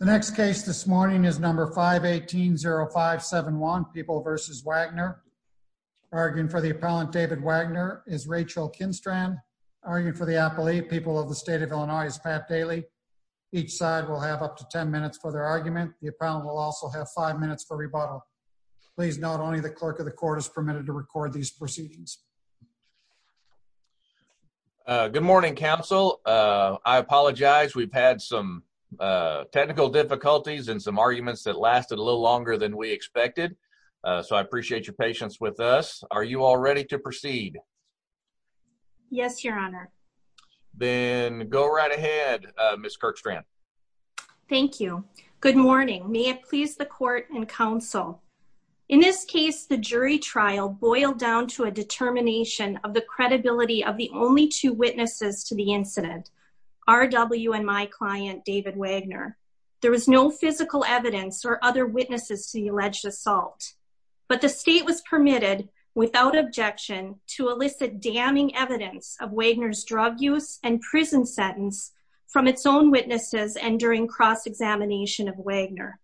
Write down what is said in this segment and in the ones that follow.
The next case this morning is number 518-0571, People v. Wagner. Arguing for the appellant David Wagner is Rachel Kinstran. Arguing for the appellee, People of the State of Illinois, is Pat Daly. Each side will have up to ten minutes for their argument. The appellant will also have five minutes for rebuttal. Please note only the clerk of the court is permitted to record these proceedings. Good morning, counsel. I apologize. We've had some technical difficulties and some arguments that lasted a little longer than we expected, so I appreciate your patience with us. Are you all ready to proceed? Yes, your honor. Then go right ahead, Ms. Kirkstrand. Thank you. Good morning. May it please the court and counsel. In this case, the jury trial boiled down to a determination of the credibility of the only two witnesses to the incident, RW and my client, David Wagner. There was no physical evidence or other witnesses to the alleged assault, but the state was permitted, without objection, to elicit damning evidence of Wagner's drug use and prison sentence from its own witnesses and during cross-examination of Wagner.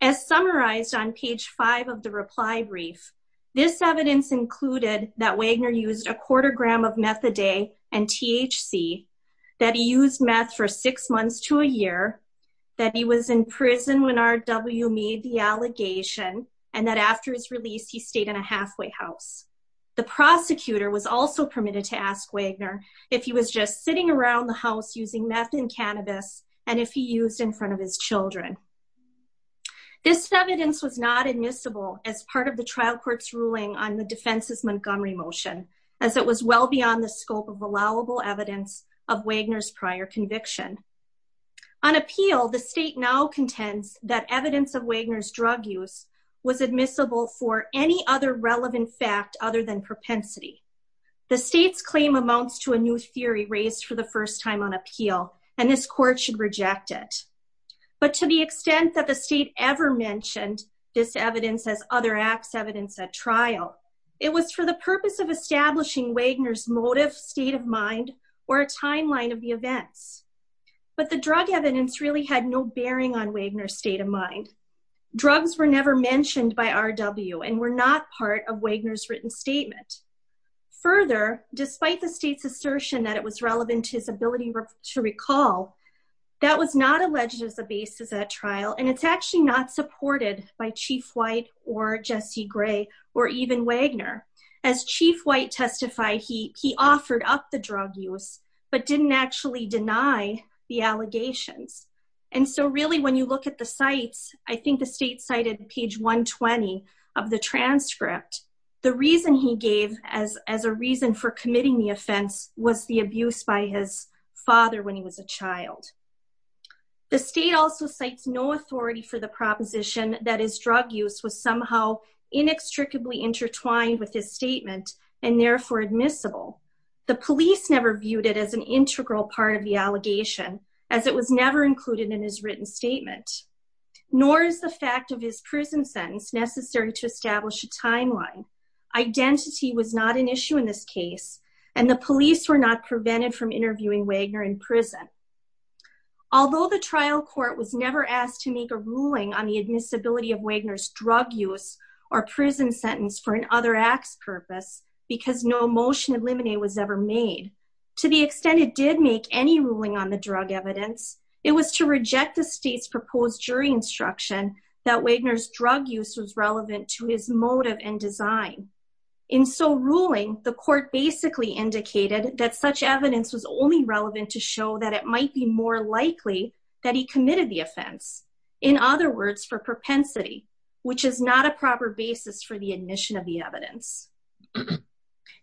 As summarized on page 5 of the reply brief, this evidence included that Wagner used a quarter gram of Methadate and THC, that he used meth for six months to a year, that he was in prison when RW made the allegation, and that after his release he stayed in a halfway house. The prosecutor was also permitted to ask Wagner if he was just sitting around the house using meth and cannabis, and if he used in front of his children. This evidence was not admissible as part of the trial court's ruling on the defense's Montgomery motion, as it was well beyond the scope of allowable evidence of Wagner's prior conviction. On appeal, the state now contends that evidence of Wagner's drug use was admissible for any other relevant fact other than propensity. The state's claim amounts to a new theory raised for the first time on appeal, and this court should reject it. But to the extent that the state ever mentioned this evidence as other acts evidence at trial, it was for the purpose of establishing Wagner's motive, state of mind, or a timeline of the events. But the drug evidence really had no bearing on Wagner's state of mind. Drugs were never mentioned by RW and were not part of Wagner's written statement. Further, despite the state's relevance to his ability to recall, that was not alleged as a basis at trial, and it's actually not supported by Chief White or Jesse Gray or even Wagner. As Chief White testified, he offered up the drug use, but didn't actually deny the allegations. And so really when you look at the sites, I think the state cited page 120 of the transcript. The reason he The state also cites no authority for the proposition that his drug use was somehow inextricably intertwined with his statement and therefore admissible. The police never viewed it as an integral part of the allegation, as it was never included in his written statement. Nor is the fact of his prison sentence necessary to establish a timeline. Identity was not an issue in this case, and the police were not prevented from interviewing Wagner in prison. Although the trial court was never asked to make a ruling on the admissibility of Wagner's drug use or prison sentence for an other acts purpose, because no motion of limine was ever made, to the extent it did make any ruling on the drug evidence, it was to reject the state's proposed jury instruction that Wagner's drug use was relevant to his motive and design. In so ruling, the court basically indicated that such evidence was only relevant to show that it might be more likely that he committed the offense. In other words, for propensity, which is not a proper basis for the admission of the evidence.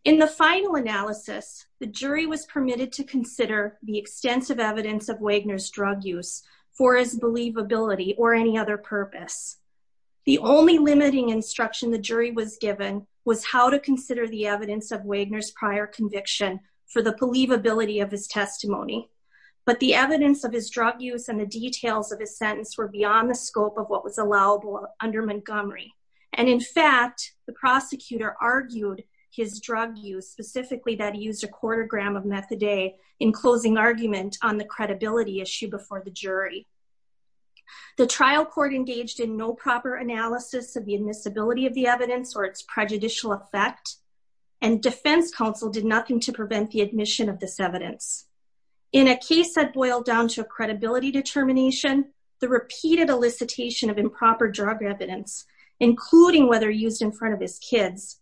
In the final analysis, the jury was permitted to consider the extensive evidence of Wagner's drug use for his believability or any other purpose. The only limiting instruction the jury was given was how to consider the evidence of Wagner's prior conviction for the believability of his testimony. But the evidence of his drug use and the details of his sentence were beyond the scope of what was allowable under Montgomery. And in fact, the prosecutor argued his drug use specifically that he used a quarter gram of methadate in closing argument on the credibility issue before the jury. The trial court engaged in no proper analysis of the admissibility of the evidence or its prejudicial effect. And defense counsel did nothing to prevent the admission of this evidence. In a case that boiled down to a credibility determination, the repeated elicitation of improper drug evidence, including whether used in front of his kids,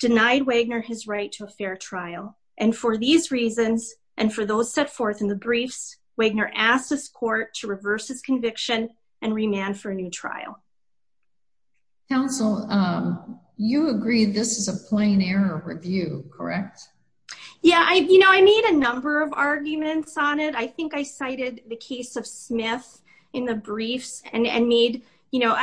denied Wagner his right to a fair trial. And for these reasons, and for those set forth in the briefs, Wagner asked this court to reverse his conviction and remand for a new trial. Counsel, you agree this is a plain error review, correct? Yeah, I, you know, I made a number of arguments on it. I think I cited the case of Smith in the briefs and made, you know,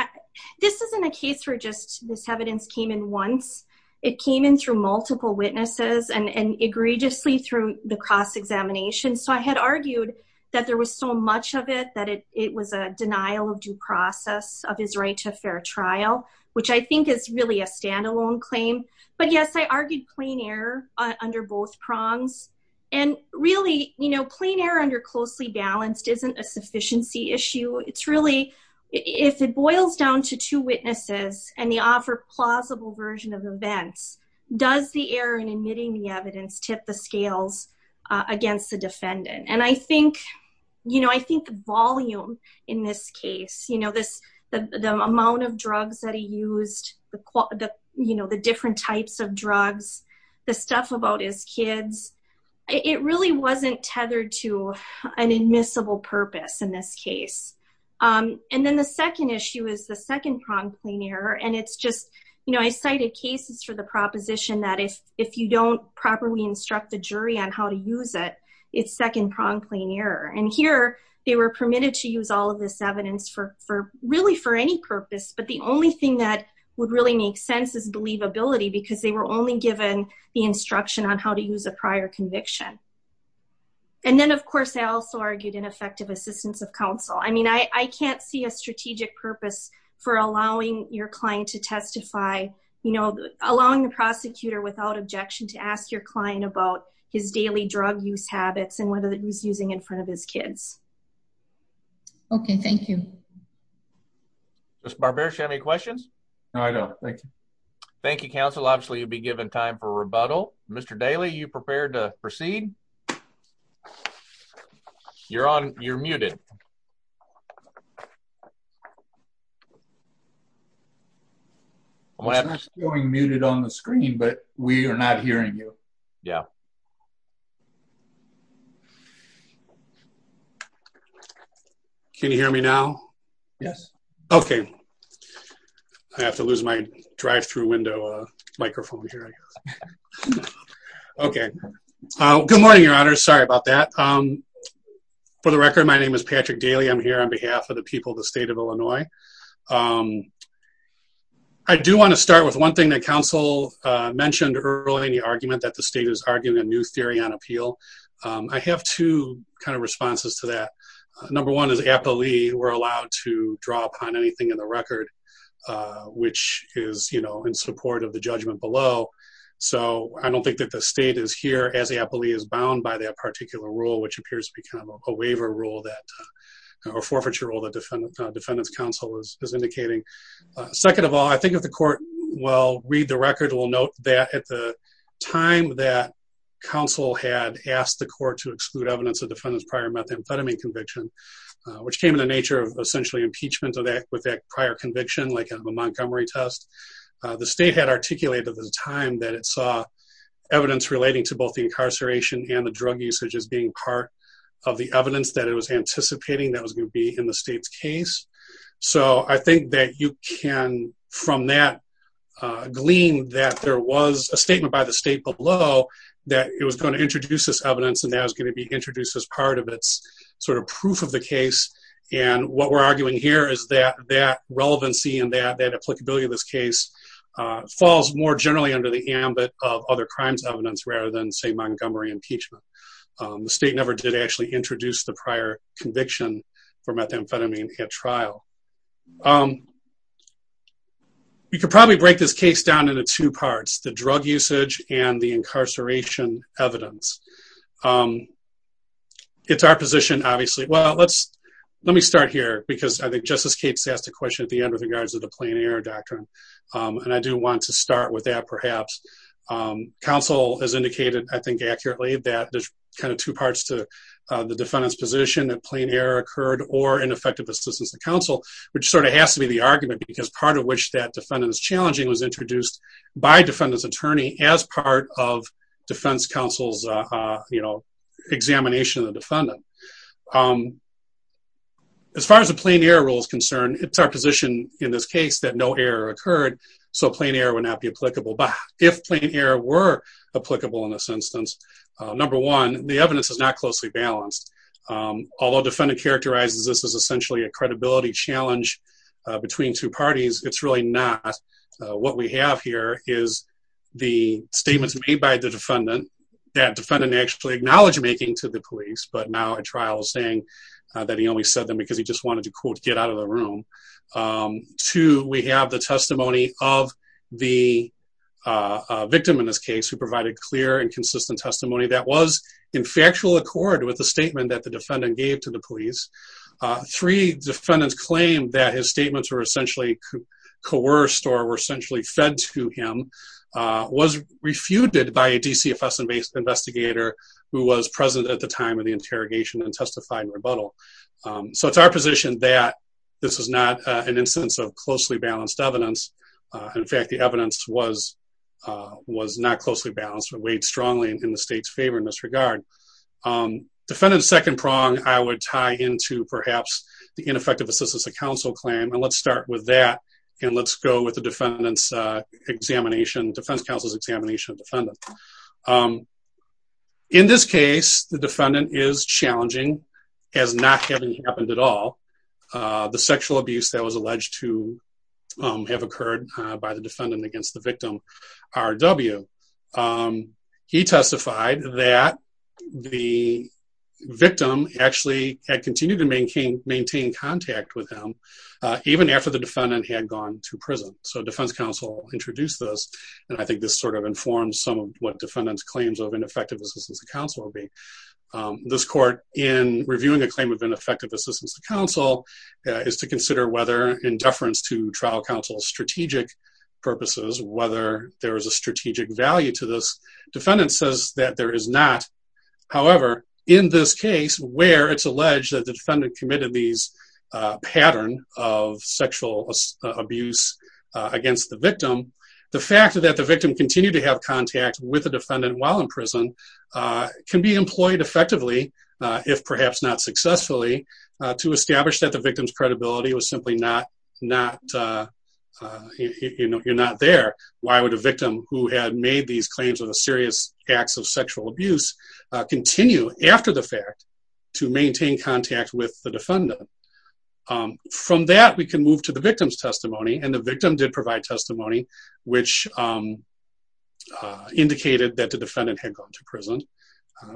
this isn't a case where just this evidence came in once. It came in through multiple witnesses and egregiously through the cross examination. So I had argued that there was so much of it that it was a denial of due process of his right to a fair trial, which I think is really a standalone claim. But yes, I argued plain error under both prongs. And really, you know, plain error under closely balanced isn't a sufficiency issue. It's really, if it boils down to two witnesses and the offer plausible version of events, does the error in admitting the evidence tip the scales against the defendant? And I think, you know, I think the volume in this case, you know, this, the amount of drugs that he used, the, you know, the different types of drugs, the stuff about his kids, it really wasn't tethered to an admissible purpose in this case. And then the second issue is the second prong plain error. And it's just, you know, I cited cases for the proposition that if, if you don't properly instruct the jury on how to use it, it's second prong plain error. And here, they were permitted to use all of this evidence for really for any purpose. But the only thing that would really make sense is because they were only given the instruction on how to use a prior conviction. And then of course, I also argued ineffective assistance of counsel. I mean, I can't see a strategic purpose for allowing your client to testify, you know, allowing the prosecutor without objection to ask your client about his daily drug use habits and whether he's using in front of his Thank you, counsel. Obviously, you'd be given time for rebuttal. Mr. Daly, you prepared to proceed. You're on. You're muted. I'm muted on the screen, but we are not hearing you. Yeah. Can you hear me now? Yes. Okay. I have to lose my drive through window microphone here. Okay. Good morning, your honor. Sorry about that. For the record, my name is Patrick Daly. I'm here on behalf of the people of the state of Illinois. I do want to start with one thing that counsel mentioned early in the argument that the state is arguing a new theory on appeal. I have two kind of responses to that. Number one is aptly, we're allowed to draw upon anything in the record, which is, you know, in support of the judgment below. So I don't think that the state is here as aptly is bound by that particular rule, which appears to be kind of a waiver rule that or forfeiture or the defendant's counsel is indicating. Second of all, I think if the court will read the record, we'll note that at the time that counsel had asked the court to exclude evidence of defendant's prior methamphetamine conviction, which came in the nature of essentially impeachment of that with that prior conviction, like a Montgomery test, the state had articulated at the time that it saw evidence relating to both the incarceration and the drug usage as being part of the evidence that it was anticipating that was going to be in the case. So I think that you can from that glean that there was a statement by the state below that it was going to introduce this evidence and that was going to be introduced as part of its sort of proof of the case. And what we're arguing here is that that relevancy and that that applicability of this case falls more generally under the ambit of other crimes evidence rather than say Montgomery impeachment. The state never did actually introduce the prior conviction for methamphetamine at trial. You could probably break this case down into two parts, the drug usage and the incarceration evidence. It's our position, obviously, well, let's let me start here because I think Justice Capes asked a question at the end with regards to the plain error doctrine. And I do want to start with that perhaps. Counsel has indicated, I think accurately that there's two parts to the defendant's position that plain error occurred or ineffective assistance to counsel, which sort of has to be the argument because part of which that defendant is challenging was introduced by defendant's attorney as part of defense counsel's examination of the defendant. As far as the plain error rule is concerned, it's our position in this case that no error occurred, so plain error would not be applicable. But if plain error were applicable in this instance, number one, the evidence is not closely balanced. Although defendant characterizes this as essentially a credibility challenge between two parties, it's really not. What we have here is the statements made by the defendant that defendant actually acknowledged making to the police, but now at trial saying that he only said them because he just wanted to quote get out of the room. Two, we have the testimony of the victim in this case who provided clear and consistent testimony that was in factual accord with the statement that the defendant gave to the police. Three, defendants claimed that his statements were essentially coerced or were essentially fed to him, was refuted by a DCFS investigator who was present at the time of the interrogation and testified in rebuttal. So it's our position that this is not an instance of closely balanced evidence. In fact, the evidence was not closely balanced but weighed strongly in the state's favor in this regard. Defendant's second prong I would tie into perhaps the ineffective assistance of counsel claim. And let's start with that and let's go with the defendant's examination, defense counsel's examination of defendant. In this case, the defendant is challenging as not having happened at all the sexual abuse that was alleged to have occurred by the defendant against the victim, R.W. He testified that the victim actually had continued to maintain contact with him even after the defendant had gone to prison. So defense counsel introduced this and I think this sort of informs some of what defendants claims of ineffective assistance of reviewing a claim of ineffective assistance to counsel is to consider whether in deference to trial counsel's strategic purposes, whether there is a strategic value to this. Defendant says that there is not. However, in this case where it's alleged that the defendant committed these pattern of sexual abuse against the victim, the fact that the victim continued to have contact with the defendant while in prison can be employed effectively if perhaps not successfully to establish that the victim's credibility was simply not there. Why would a victim who had made these claims of a serious acts of sexual abuse continue after the fact to maintain contact with the defendant? From that, we can move to the victim's testimony and the victim did provide testimony which indicated that the defendant had gone to prison.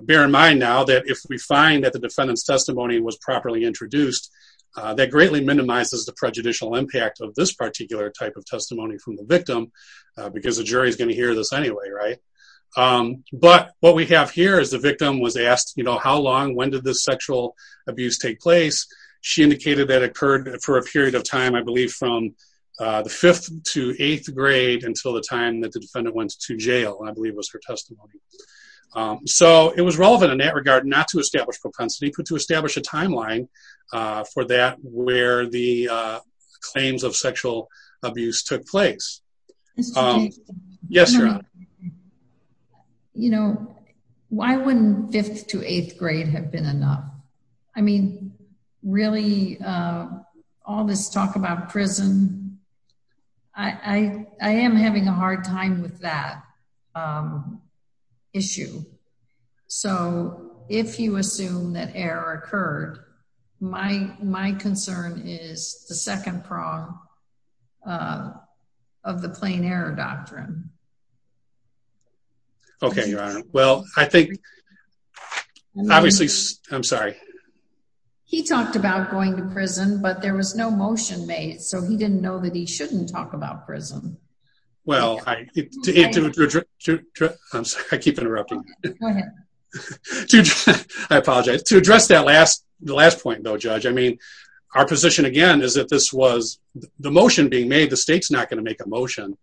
Bear in mind now that if we find that the defendant's testimony was properly introduced, that greatly minimizes the prejudicial impact of this particular type of testimony from the victim because the jury is going to hear this anyway, right? But what we have here is the victim was asked, you know, how long, when did this sexual abuse take place? She indicated that occurred for a period of time, I believe from the 5th to 8th grade until the time that the defendant went to jail, I believe was her testimony. So, it was relevant in that regard not to establish propensity but to establish a timeline for that where the claims of sexual abuse took place. Yes, Your Honor. You know, why wouldn't 5th to 8th grade have been enough? I mean, really all this talk about prison, I am having a hard time with that issue. So, if you assume that error occurred, my concern is the second prong of the plain error doctrine. Okay, Your Honor. Well, I think, obviously, I'm sorry. He talked about going to prison but there was no motion made. So, he didn't know that he shouldn't talk about prison. Well, I keep interrupting. Go ahead. I apologize. To address that last point though, Judge, I mean, our position again is that this was the motion being made. The state's not going to make a motion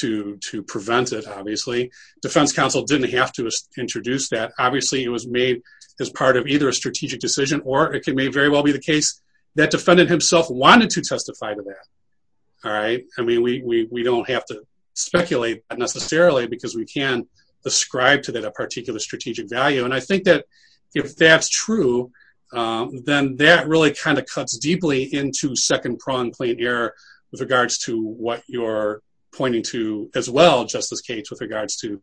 to prevent it, obviously. Defense counsel didn't have to introduce that. Obviously, it was made as part of either a strategic decision or it may very well be the case that defendant himself wanted to testify to that. All right. I mean, we don't have to speculate necessarily because we can't ascribe to that a particular strategic value. And I think that if that's true, then that really kind of cuts deeply into second prong plain error with regards to what you're pointing to as well, Justice Cates, with regards to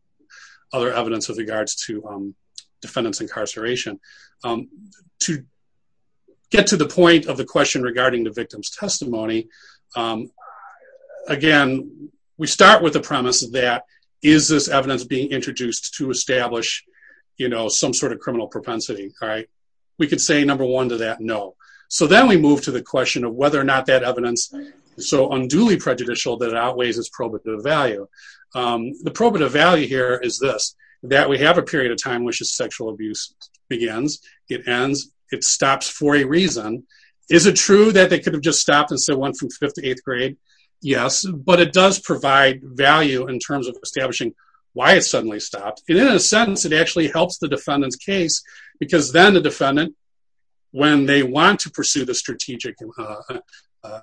other evidence with regards to incarceration. To get to the point of the question regarding the victim's testimony, again, we start with the premise that is this evidence being introduced to establish, you know, some sort of criminal propensity. All right. We could say, number one, to that, no. So, then we move to the question of whether or not that evidence is so unduly prejudicial that it outweighs its probative value. The probative value here is this, that we have a period of time which is sexual abuse begins, it ends, it stops for a reason. Is it true that they could have just stopped and said one from fifth to eighth grade? Yes, but it does provide value in terms of establishing why it suddenly stopped. And in a sense, it actually helps the defendant's case because then the defendant, when they want to pursue the strategic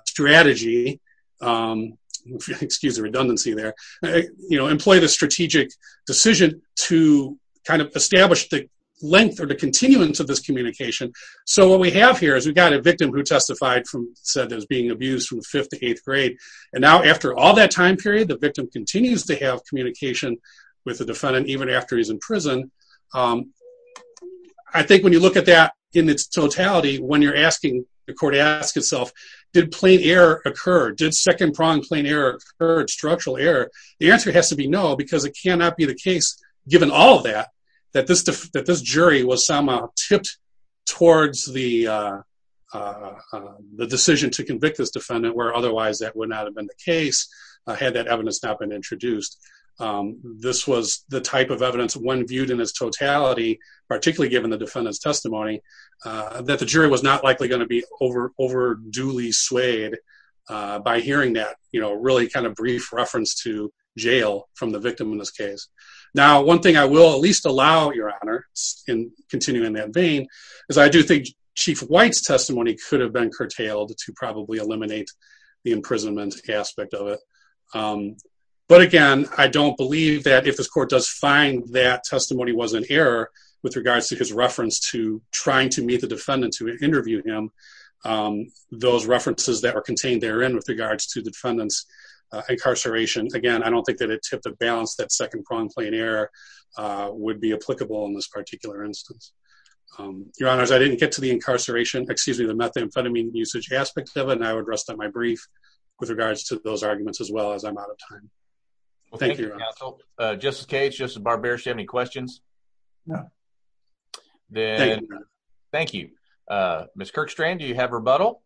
strategy, excuse the length or the continuance of this communication. So, what we have here is we've got a victim who testified from said that was being abused from fifth to eighth grade. And now, after all that time period, the victim continues to have communication with the defendant even after he's in prison. I think when you look at that in its totality, when you're asking, the court asks itself, did plain error occur? Did second-prong plain error occur, structural error? The answer has to be no, because it cannot be the case, given all of that, that this jury was somehow tipped towards the decision to convict this defendant where otherwise that would not have been the case, had that evidence not been introduced. This was the type of evidence, when viewed in its totality, particularly given the defendant's testimony, that the jury was not from the victim in this case. Now, one thing I will at least allow, Your Honor, in continuing that vein, is I do think Chief White's testimony could have been curtailed to probably eliminate the imprisonment aspect of it. But again, I don't believe that if this court does find that testimony was an error with regards to his reference to trying to meet the defendant to interview him, those references that are contained therein with regards to the balance that second-prong plain error would be applicable in this particular instance. Your Honors, I didn't get to the incarceration, excuse me, the methamphetamine usage aspect of it, and I would rest on my brief with regards to those arguments, as well, as I'm out of time. Well, thank you, Counsel. Justice Cage, Justice Barber, do you have any questions? No. Thank you, Your Honor. Thank you. Ms. Kirkstrand, do you have rebuttal?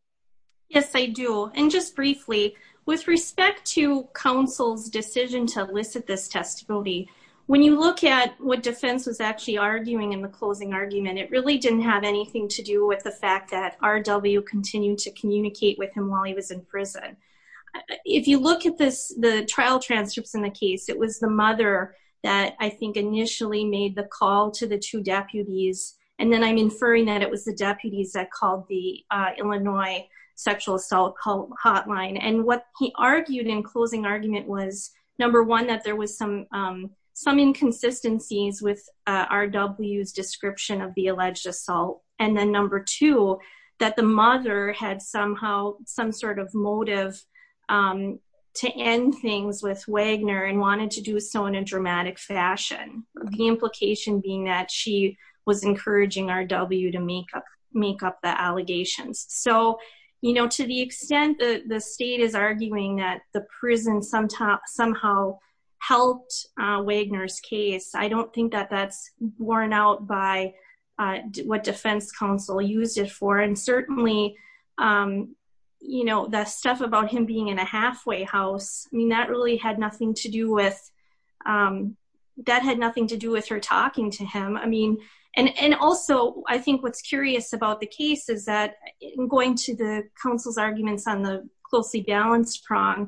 Yes, I do. And just briefly, with respect to counsel's decision to elicit this testimony, when you look at what defense was actually arguing in the closing argument, it really didn't have anything to do with the fact that R.W. continued to communicate with him while he was in prison. If you look at the trial transcripts in the case, it was the mother that, I think, initially made the call to the two deputies, and then I'm inferring that it called the Illinois sexual assault hotline. And what he argued in closing argument was, number one, that there was some inconsistencies with R.W.'s description of the alleged assault, and then number two, that the mother had somehow some sort of motive to end things with Wagner and wanted to do so in a dramatic fashion, the implication being that she was encouraging R.W. to make up the allegations. So, you know, to the extent that the state is arguing that the prison somehow helped Wagner's case, I don't think that that's worn out by what defense counsel used it for. And certainly, you know, the stuff about him being in a halfway house, I mean, that really had with, that had nothing to do with her talking to him. I mean, and also, I think what's curious about the case is that in going to the counsel's arguments on the closely balanced prong,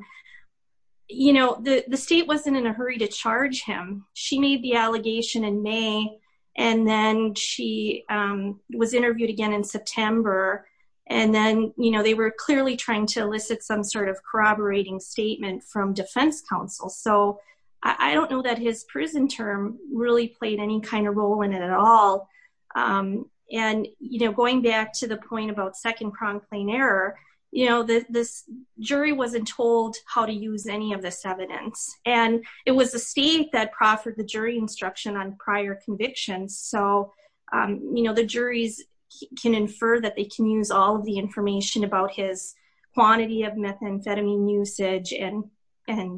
you know, the state wasn't in a hurry to charge him. She made the allegation in May, and then she was interviewed again in September. And then, you know, they were clearly trying to elicit some sort of corroborating statement from defense counsel. So I don't know that his prison term really played any kind of role in it at all. And, you know, going back to the point about second prong plane error, you know, this jury wasn't told how to use any of this evidence. And it was the state that proffered the jury instruction on prior convictions. So, you know, the juries can infer that they can use all of the information about his quantity of methamphetamine usage, and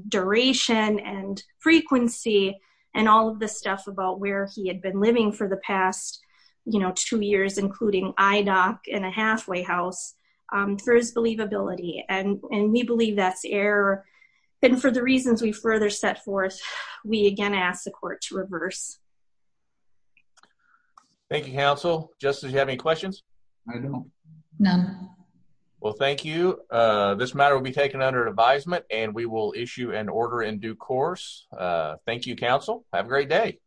duration, and frequency, and all of the stuff about where he had been living for the past, you know, two years, including IDOC in a halfway house, for his believability. And we believe that's error. And for the reasons we further set forth, we again ask the court to reverse. Thank you, counsel. Justice, do you have any questions? I don't. None. Well, thank you. This matter will be taken under advisement, and we will issue an order in due course. Thank you, counsel. Have a great day.